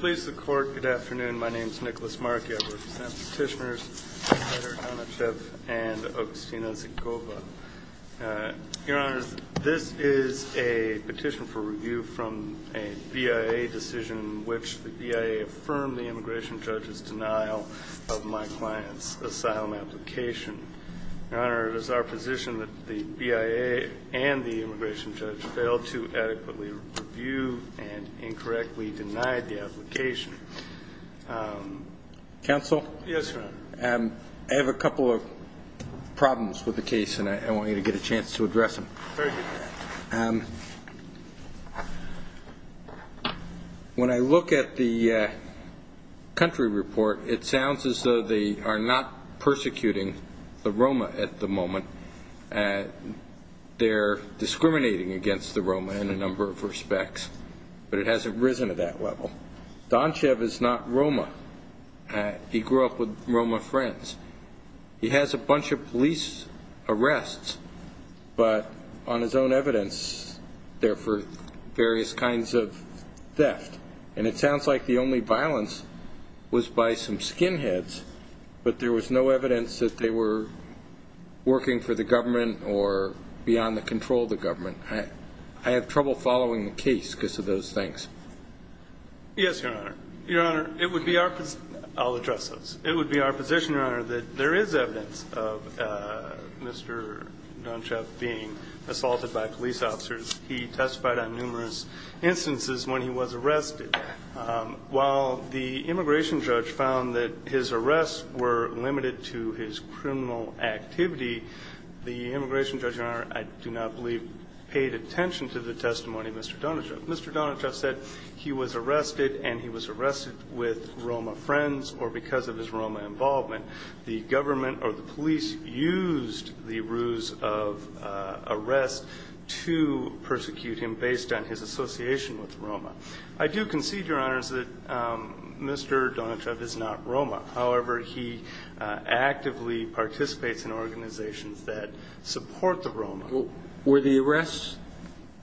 Please the court. Good afternoon. My name is Nicholas Markey. I represent petitioners Peter Donchev and Agustina Zykova. Your Honor, this is a petition for review from a BIA decision which the BIA affirmed the immigration judge's denial of my client's asylum application. Your Honor, it is our position that the BIA and the immigration judge failed to adequately review and incorrectly denied the application. Counsel? Yes, Your Honor. I have a couple of problems with the case and I want you to get a chance to address them. Very good. When I look at the country report, it sounds as though they are not persecuting the Roma at the moment. They're discriminating against the Roma in a number of respects, but it hasn't risen to that level. Donchev is not Roma. He grew up with Roma friends. He has a bunch of police arrests, but on his own evidence, they're for various kinds of theft. And it sounds like the only violence was by some skinheads, but there was no evidence that they were working for the government or beyond the control of the government. I have trouble following the case because of those things. Yes, Your Honor. Your Honor, it would be our position. I'll address those. It would be our of Mr. Donchev being assaulted by police officers. He testified on numerous instances when he was arrested. While the immigration judge found that his arrests were limited to his criminal activity, the immigration judge, Your Honor, I do not believe paid attention to the testimony of Mr. Donchev. Mr. Donchev said he was arrested and he was arrested with Roma friends or because of his used the ruse of arrest to persecute him based on his association with Roma. I do concede, Your Honor, that Mr. Donchev is not Roma. However, he actively participates in organizations that support the Roma. Were the arrests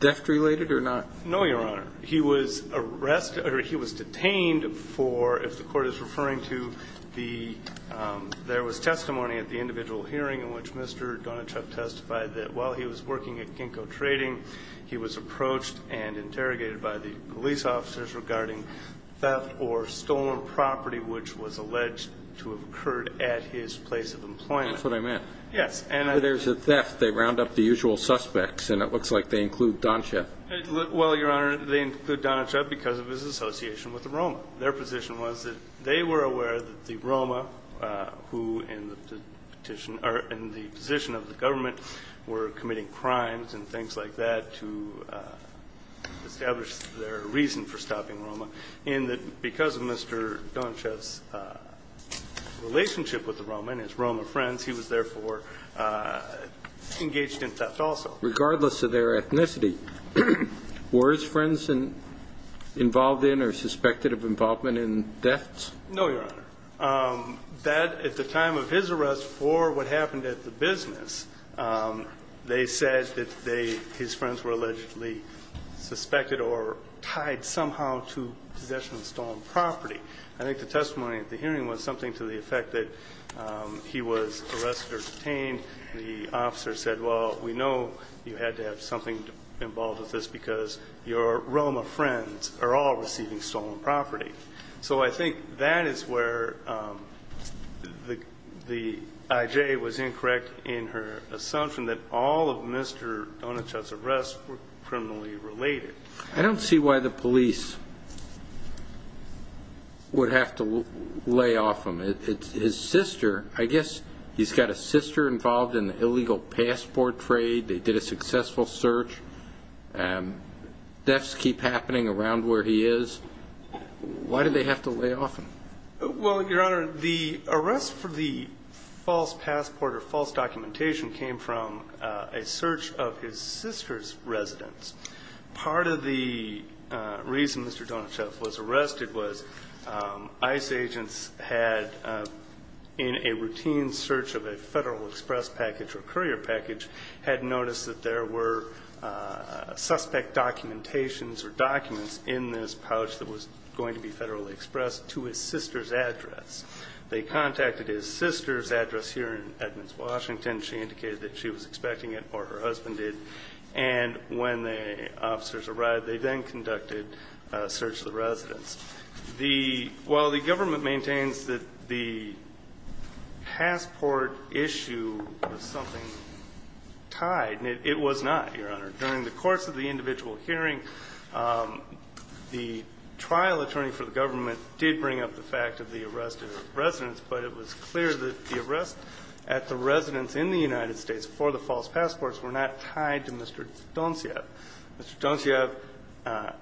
theft-related or not? No, Your Honor. He was detained for, if the Court is referring to the, there was testimony at the individual hearing in which Mr. Donchev testified that while he was working at Ginkgo Trading, he was approached and interrogated by the police officers regarding theft or stolen property which was alleged to have occurred at his place of employment. That's what I meant. Yes. And there's a theft. They round up the usual suspects and it looks like they include Donchev. Well, Your Honor, they include Donchev because of his association with the Roma. Their position was that they were aware that the Roma who in the petition or in the position of the government were committing crimes and things like that to establish their reason for stopping Roma and that because of Mr. Donchev's relationship with the Roma and his Roma friends, he was therefore engaged in theft also. Regardless of their ethnicity, were his friends involved in or suspected of involvement in thefts? No, Your Honor. That, at the time of his arrest for what happened at the business, they said that they, his friends were allegedly suspected or tied somehow to possession of stolen property. I think the testimony at the hearing was something to the effect that he was arrested or detained. The officer said, well, we know you had to have something involved with this because your Roma friends are all receiving stolen property. So I think that is where the IJ was incorrect in her assumption that all of Mr. Donchev's arrests were criminally related. I don't see why the police would have to lay off him. His sister, I guess and deaths keep happening around where he is. Why do they have to lay off him? Well, Your Honor, the arrest for the false passport or false documentation came from a search of his sister's residence. Part of the reason Mr. Donchev was arrested was ICE agents had in a routine search of a Federal Express package or courier package had noticed that there were suspect documentations or documents in this pouch that was going to be Federal Express to his sister's address. They contacted his sister's address here in Edmonds, Washington. She indicated that she was expecting it or her husband did. And when the officers arrived, they then conducted a search of was something tied. It was not, Your Honor. During the course of the individual hearing, the trial attorney for the government did bring up the fact of the arrest of his residence, but it was clear that the arrest at the residence in the United States for the false passports were not tied to Mr. Donchev. Mr. Donchev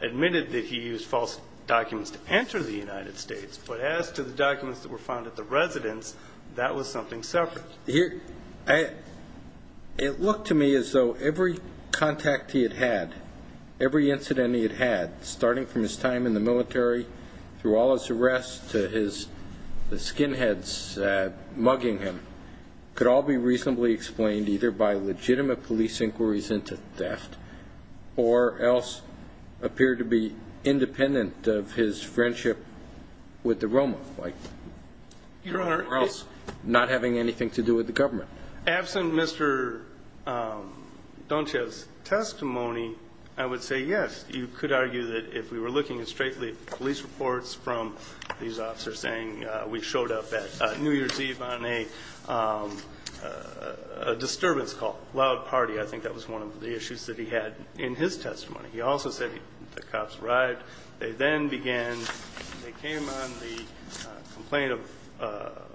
admitted that he used false documents to enter the United States. But as to the documents that were found at the residence, that was something separate. It looked to me as though every contact he had had, every incident he had had, starting from his time in the military, through all his arrests, to his skinheads mugging him, could all be reasonably explained either by legitimate police inquiries into theft or else appear to be independent of his friendship with the Roma, or else not having anything to do with the government. Absent Mr. Donchev's testimony, I would say yes. You could argue that if we were looking at straight police reports from these officers saying we showed up at New York, that was a disturbance call, loud party. I think that was one of the issues that he had in his testimony. He also said the cops arrived, they then began, they came on the complaint of,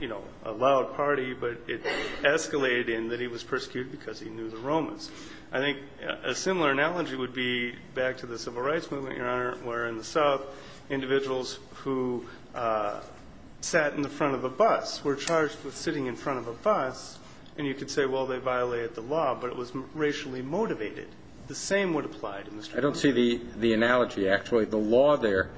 you know, a loud party, but it escalated in that he was persecuted because he knew the Romans. I think a similar analogy would be back to the Civil Rights Movement, Your Honor, where in the South, individuals who sat in the front of a bus were charged with sitting in front of a bus, and you could say, well, they violated the law, but it was racially motivated. The same would apply to Mr. Donchev. I don't see the analogy, actually. The law there,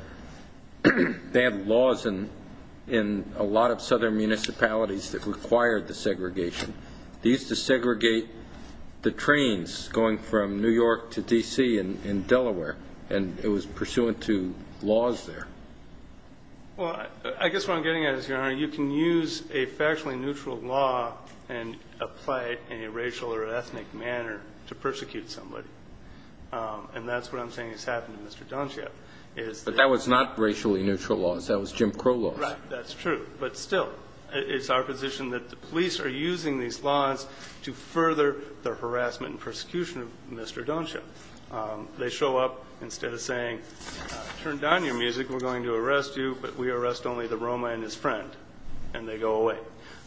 they had laws in a lot of southern municipalities that required the segregation. They used to segregate the trains going from New York to D.C. and Delaware, and it was pursuant to laws there. Well, I guess what I'm getting at is, Your Honor, you can use a factually neutral law and apply it in a racial or ethnic manner to persecute somebody, and that's what I'm saying has happened to Mr. Donchev. But that was not racially neutral laws. That was Jim Crow laws. Right. That's true. But still, it's our position that the police are using these laws to further the harassment and persecution of Mr. Donchev. They show up, instead of saying, turn down your music, we're going to arrest you, but we arrest only the Roma and his friend, and they go away.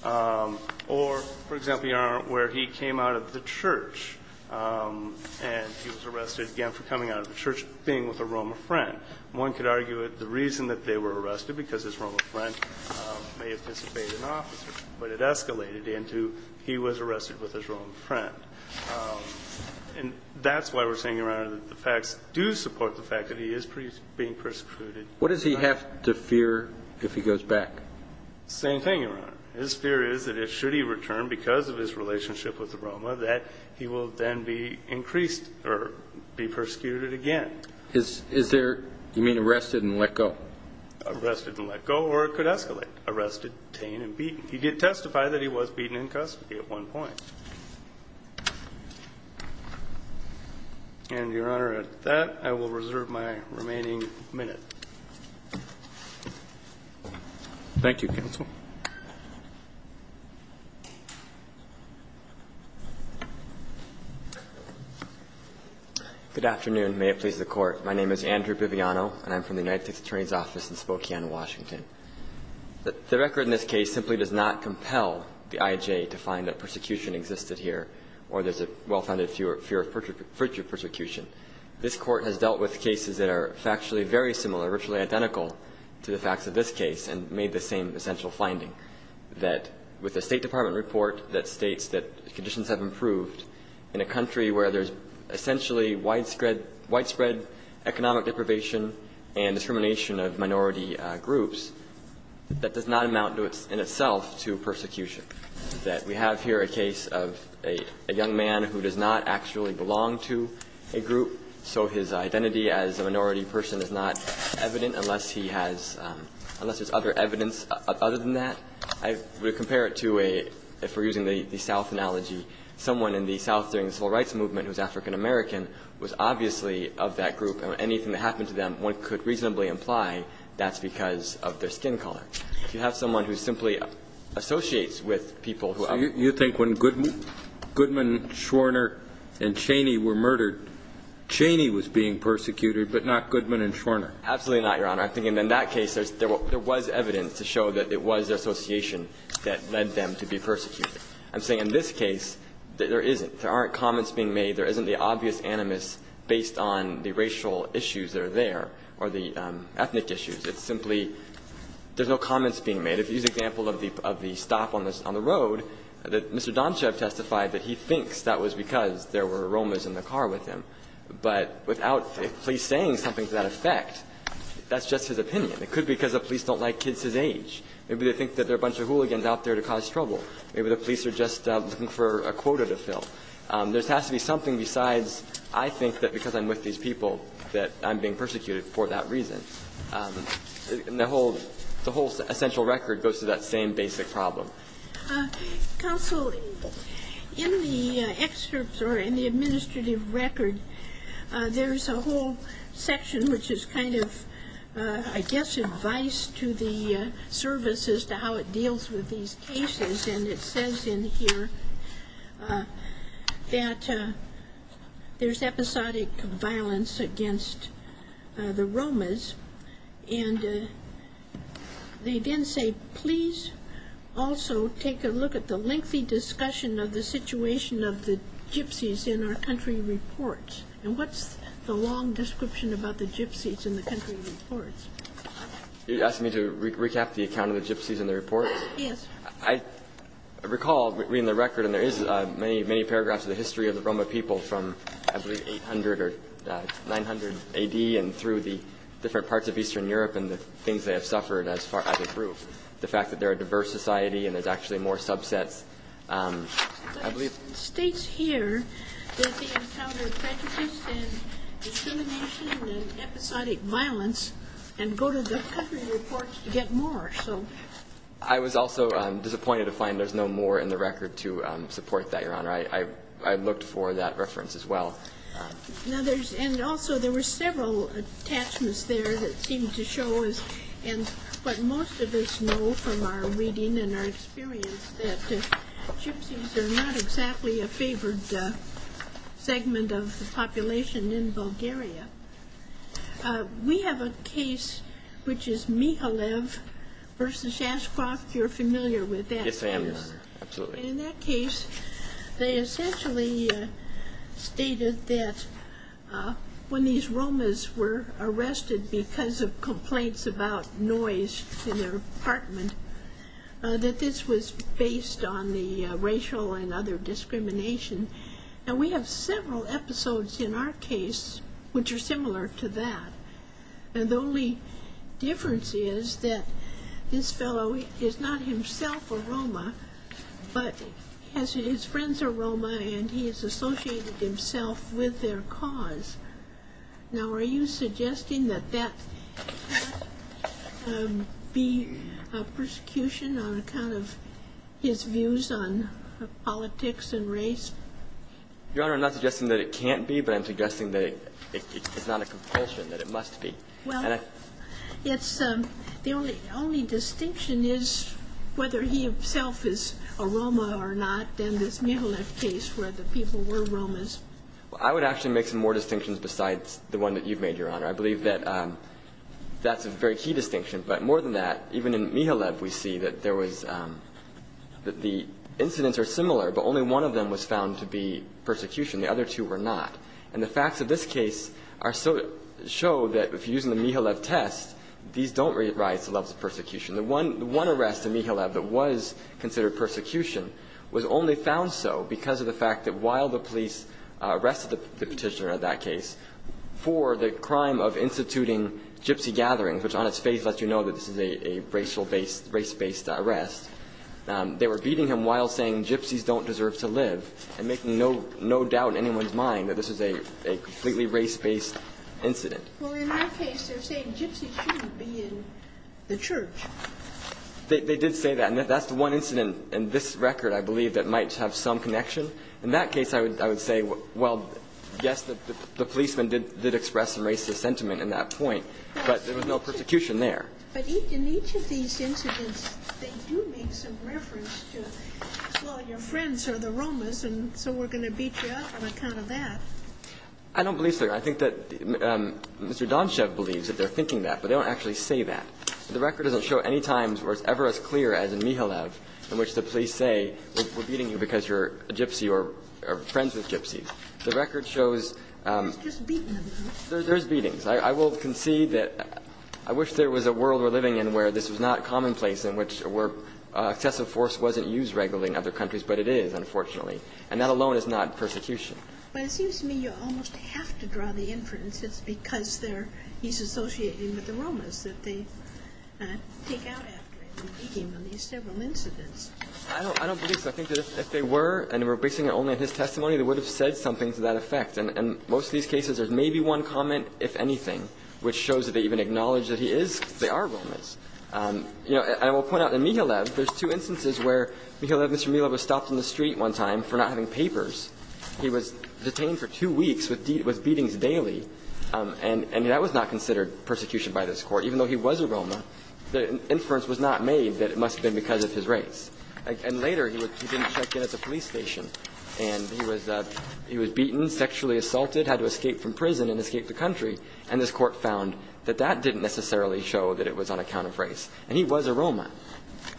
Or, for example, Your Honor, where he came out of the church, and he was arrested again for coming out of the church, being with a Roma friend. One could argue that the reason that they were arrested, because his Roma friend may have disobeyed an officer, but it escalated into he was arrested with his Roma friend. And that's why we're saying, Your Honor, that the facts do support the fact that he is being persecuted. What does he have to fear if he goes back? Same thing, Your Honor. His fear is that, should he return because of his relationship with the Roma, that he will then be increased, or be persecuted again. Is there, you mean arrested and let go? Arrested and let go, or it could escalate. Arrested, detained, and beaten. He did testify that he was beaten in custody at one point. And, Your Honor, at that, I will reserve my remaining minute. Thank you, counsel. Good afternoon. May it please the Court. My name is Andrew Biviano, and I'm from the United States Attorney's Office in Spokane, Washington. The record in this case simply does not compel the IJ to find that persecution existed here, or there's a well-founded fear of future persecution. This Court has dealt with cases that are factually very similar, virtually identical to the facts of this case, and made the same essential finding, that with the State Department report that states that conditions have improved in a country where there's essentially widespread economic deprivation and discrimination of minority groups, that does not amount in itself to persecution. That we have here a case of a young man who does not actually belong to a group, so his identity as a minority person is not evident unless he has other evidence other than that. I would compare it to a, if we're using the South analogy, someone in the South during the Civil Rights Movement who's African American was obviously of that group. And anything that happened to them, one could reasonably imply that's because of their skin color. If you have someone who simply associates with people who are of that group. So you think when Goodman, Schwerner, and Cheney were murdered, Cheney was being persecuted, but not Goodman and Schwerner? Absolutely not, Your Honor. I'm thinking in that case, there was evidence to show that it was their association that led them to be persecuted. I'm saying in this case, there isn't. There aren't comments being made. There isn't the obvious animus based on the racial issues that are there or the ethnic issues. It's simply there's no comments being made. If you use the example of the stop on the road, that Mr. Domshev testified that he thinks that was because there were aromas in the car with him. But without a police saying something to that effect, that's just his opinion. It could be because the police don't like kids his age. Maybe they think that there are a bunch of hooligans out there to cause trouble. Maybe the police are just looking for a quota to fill. There has to be something besides, I think that because I'm with these people that I'm being persecuted for that reason. And the whole essential record goes to that same basic problem. Counsel, in the excerpts or in the administrative record, there's a whole section which is kind of, I guess, advice to the service as to how it deals with these cases. And it says in here that there's episodic violence against the romas. And they then say, please also take a look at the lengthy discussion of the situation of the gypsies in our country reports. And what's the long description about the gypsies in the country reports? You're asking me to recap the account of the gypsies in the report? Yes. I recall reading the record, and there is many, many paragraphs of the history of the Roma people from, I believe, 800 or 900 A.D. and through the different parts of Eastern Europe and the things they have suffered as far as it grew. The fact that they're a diverse society and there's actually more subsets, I believe. It states here that they encountered prejudice and discrimination and episodic violence and go to the country reports to get more. I was also disappointed to find there's no more in the record to support that, Your Honor. I looked for that reference as well. And also, there were several attachments there that seemed to show us, and what most of us know from our reading and our experience, that gypsies are not exactly a favored segment of the population in Bulgaria. We have a case which is Mihalev v. Ashcroft. You're familiar with that, Your Honor. Yes, I am. Absolutely. In that case, they essentially stated that when these Romas were arrested because of complaints about noise in their apartment, that this was based on the racial and other discrimination. Now, we have several episodes in our case which are similar to that. The only difference is that this fellow is not himself a Roma, but his friends are Roma and he has associated himself with their cause. Now, are you suggesting that that be a persecution on account of his views on politics and race? Your Honor, I'm not suggesting that it can't be, but I'm suggesting that it's not a compulsion, that it must be. Well, the only distinction is whether he himself is a Roma or not in this Mihalev case where the people were Romas. I would actually make some more distinctions besides the one that you've made, Your Honor. I believe that that's a very key distinction. But more than that, even in Mihalev, we see that there was the incidents are similar, but only one of them was found to be persecution. The other two were not. And the facts of this case are so to show that if you're using the Mihalev test, these don't rise to levels of persecution. The one arrest in Mihalev that was considered persecution was only found so because of the fact that while the police arrested the petitioner in that case for the crime of instituting gypsy gatherings, which on its face lets you know that this is a racial-based, race-based arrest, they were beating him while saying gypsies don't deserve to live and making no doubt in anyone's mind that this is a completely race-based incident. Well, in that case, they're saying gypsies shouldn't be in the church. They did say that. And that's the one incident in this record, I believe, that might have some connection. In that case, I would say, well, yes, the policeman did express some racist sentiment in that point, but there was no persecution there. But in each of these incidents, they do make some reference to, well, your friends are the Romas, and so we're going to beat you up on account of that. I don't believe so. And I think that Mr. Donshev believes that they're thinking that, but they don't actually say that. The record doesn't show any times where it's ever as clear as in Mihalev in which the police say we're beating you because you're a gypsy or friends with gypsies. The record shows there's beatings. I will concede that I wish there was a world we're living in where this was not commonplace in which excessive force wasn't used regularly in other countries, but it is, unfortunately. And that alone is not persecution. But it seems to me you almost have to draw the inference it's because he's associating with the Romas that they take out after him and beat him in these several incidents. I don't believe so. I think that if they were and were basing it only on his testimony, they would have said something to that effect. And in most of these cases, there's maybe one comment, if anything, which shows that they even acknowledge that he is because they are Romas. You know, and I will point out in Mihalev, there's two instances where Mihalev, Mr. Mihalev was stopped in the street one time for not having papers. He was detained for two weeks with beatings daily. And that was not considered persecution by this Court. Even though he was a Roma, the inference was not made that it must have been because of his race. And later, he didn't check in at the police station. And he was beaten, sexually assaulted, had to escape from prison and escape the country, and this Court found that that didn't necessarily show that it was on account of race. And he was a Roma.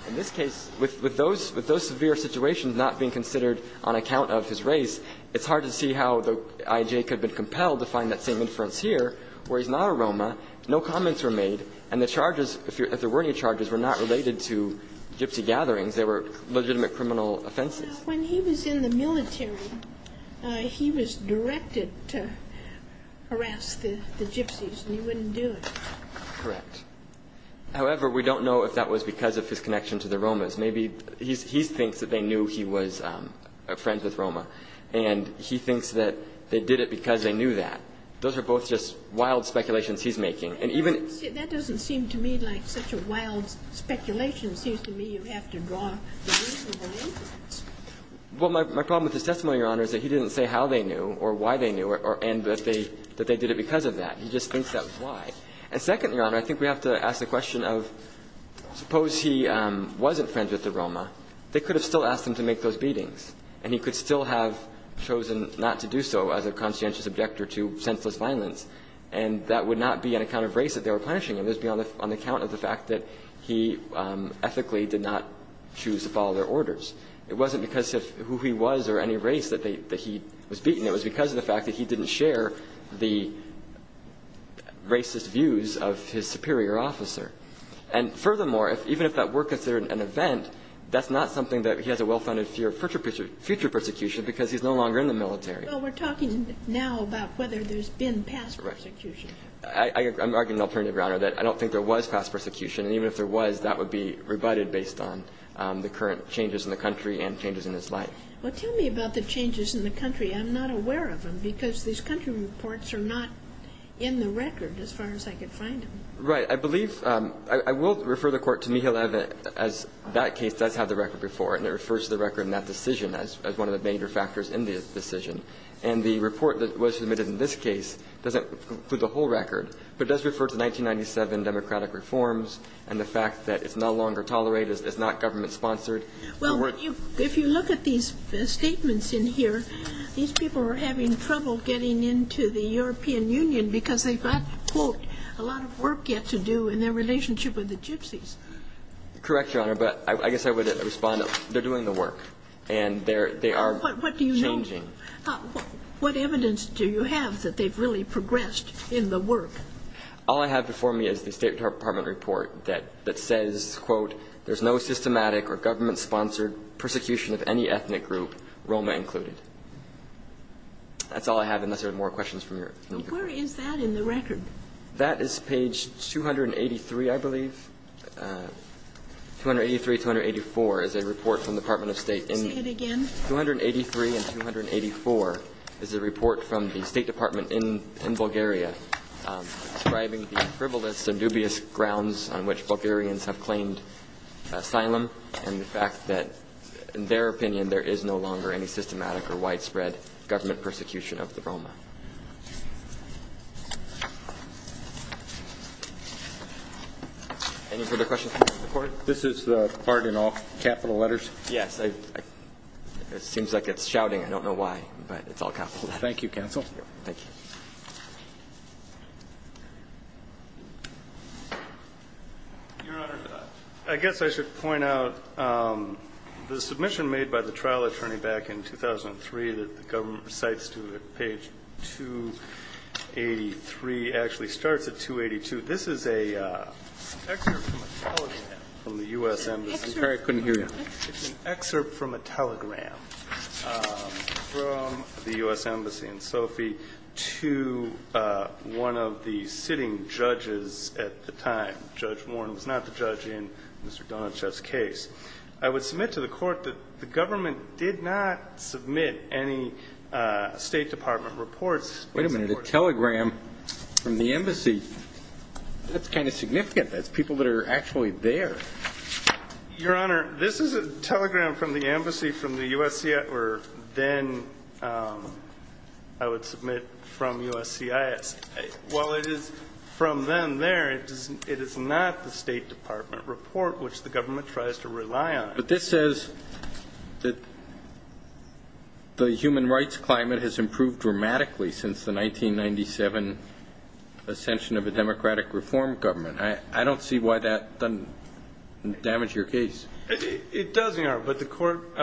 In this case, with those severe situations not being considered on account of his race, it's hard to see how the I.J. could have been compelled to find that same inference here, where he's not a Roma, no comments were made, and the charges, if there were any charges, were not related to gypsy gatherings. They were legitimate criminal offenses. When he was in the military, he was directed to harass the gypsies, and he wouldn't do it. Correct. However, we don't know if that was because of his connection to the Romas. Maybe he thinks that they knew he was a friend with Roma, and he thinks that they did it because they knew that. Those are both just wild speculations he's making. And even — That doesn't seem to me like such a wild speculation. It seems to me you have to draw a reasonable inference. Well, my problem with his testimony, Your Honor, is that he didn't say how they knew or why they knew or — and that they did it because of that. He just thinks that was why. And second, Your Honor, I think we have to ask the question of, suppose he wasn't friends with the Roma, they could have still asked him to make those beatings, and he could still have chosen not to do so as a conscientious objector to senseless violence, and that would not be on account of race that they were punishing him. It would be on account of the fact that he ethically did not choose to follow their orders. It wasn't because of who he was or any race that he was beaten. It was because of the fact that he didn't share the racist views of his superior officer. And furthermore, even if that were considered an event, that's not something that he has a well-founded fear of future persecution because he's no longer in the military. Well, we're talking now about whether there's been past persecution. I'm arguing alternatively, Your Honor, that I don't think there was past persecution. And even if there was, that would be rebutted based on the current changes in the country and changes in his life. Well, tell me about the changes in the country. I'm not aware of them because these country reports are not in the record, as far as I could find them. Right. I believe – I will refer the Court to Mikhail Eva as that case does have the record before it, and it refers to the record in that decision as one of the major factors in the decision. And the report that was submitted in this case doesn't include the whole record, but it does refer to 1997 democratic reforms and the fact that it's no longer tolerated, it's not government-sponsored. Well, if you look at these statements in here, these people are having trouble getting into the European Union because they've got, quote, a lot of work yet to do in their relationship with the gypsies. Correct, Your Honor, but I guess I would respond. They're doing the work. And they are changing. What evidence do you have that they've really progressed in the work? There's no systematic or government-sponsored persecution of any ethnic group, Roma included. That's all I have, unless there are more questions from Your Honor. Well, where is that in the record? That is page 283, I believe. 283, 284 is a report from the Department of State. Say it again. 283 and 284 is a report from the State Department in Bulgaria describing the frivolous and dubious grounds on which Bulgarians have claimed asylum and the fact that, in their opinion, there is no longer any systematic or widespread government persecution of the Roma. Any further questions, Mr. McCord? This is the part in all capital letters? Yes, it seems like it's shouting. I don't know why, but it's all capital letters. Thank you, counsel. Thank you. Your Honor, I guess I should point out the submission made by the trial attorney back in 2003 that the government recites to page 283 actually starts at 282. This is an excerpt from a telegram from the U.S. Embassy. Sorry, I couldn't hear you. It's an excerpt from a telegram from the U.S. Embassy in Sofia to one of the sitting judges at the time. Judge Warren was not the judge in Mr. Donachev's case. I would submit to the Court that the government did not submit any State Department reports. Wait a minute. A telegram from the Embassy. That's kind of significant. That's people that are actually there. Your Honor, this is a telegram from the Embassy from the USCIS, or then I would submit from USCIS. While it is from them there, it is not the State Department report which the government tries to rely on. But this says that the human rights climate has improved dramatically since the 1997 ascension of a democratic reform government. I don't see why that doesn't damage your case. It does, Your Honor, but the Court,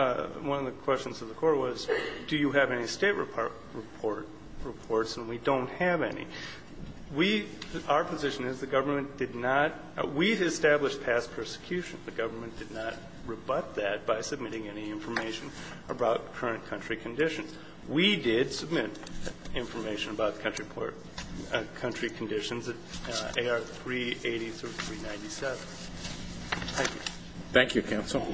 one of the questions of the Court was do you have any State Department reports, and we don't have any. We, our position is the government did not, we've established past persecution. The government did not rebut that by submitting any information about current country conditions. We did submit information about country conditions at AR 380 through 397. Thank you. Thank you, counsel.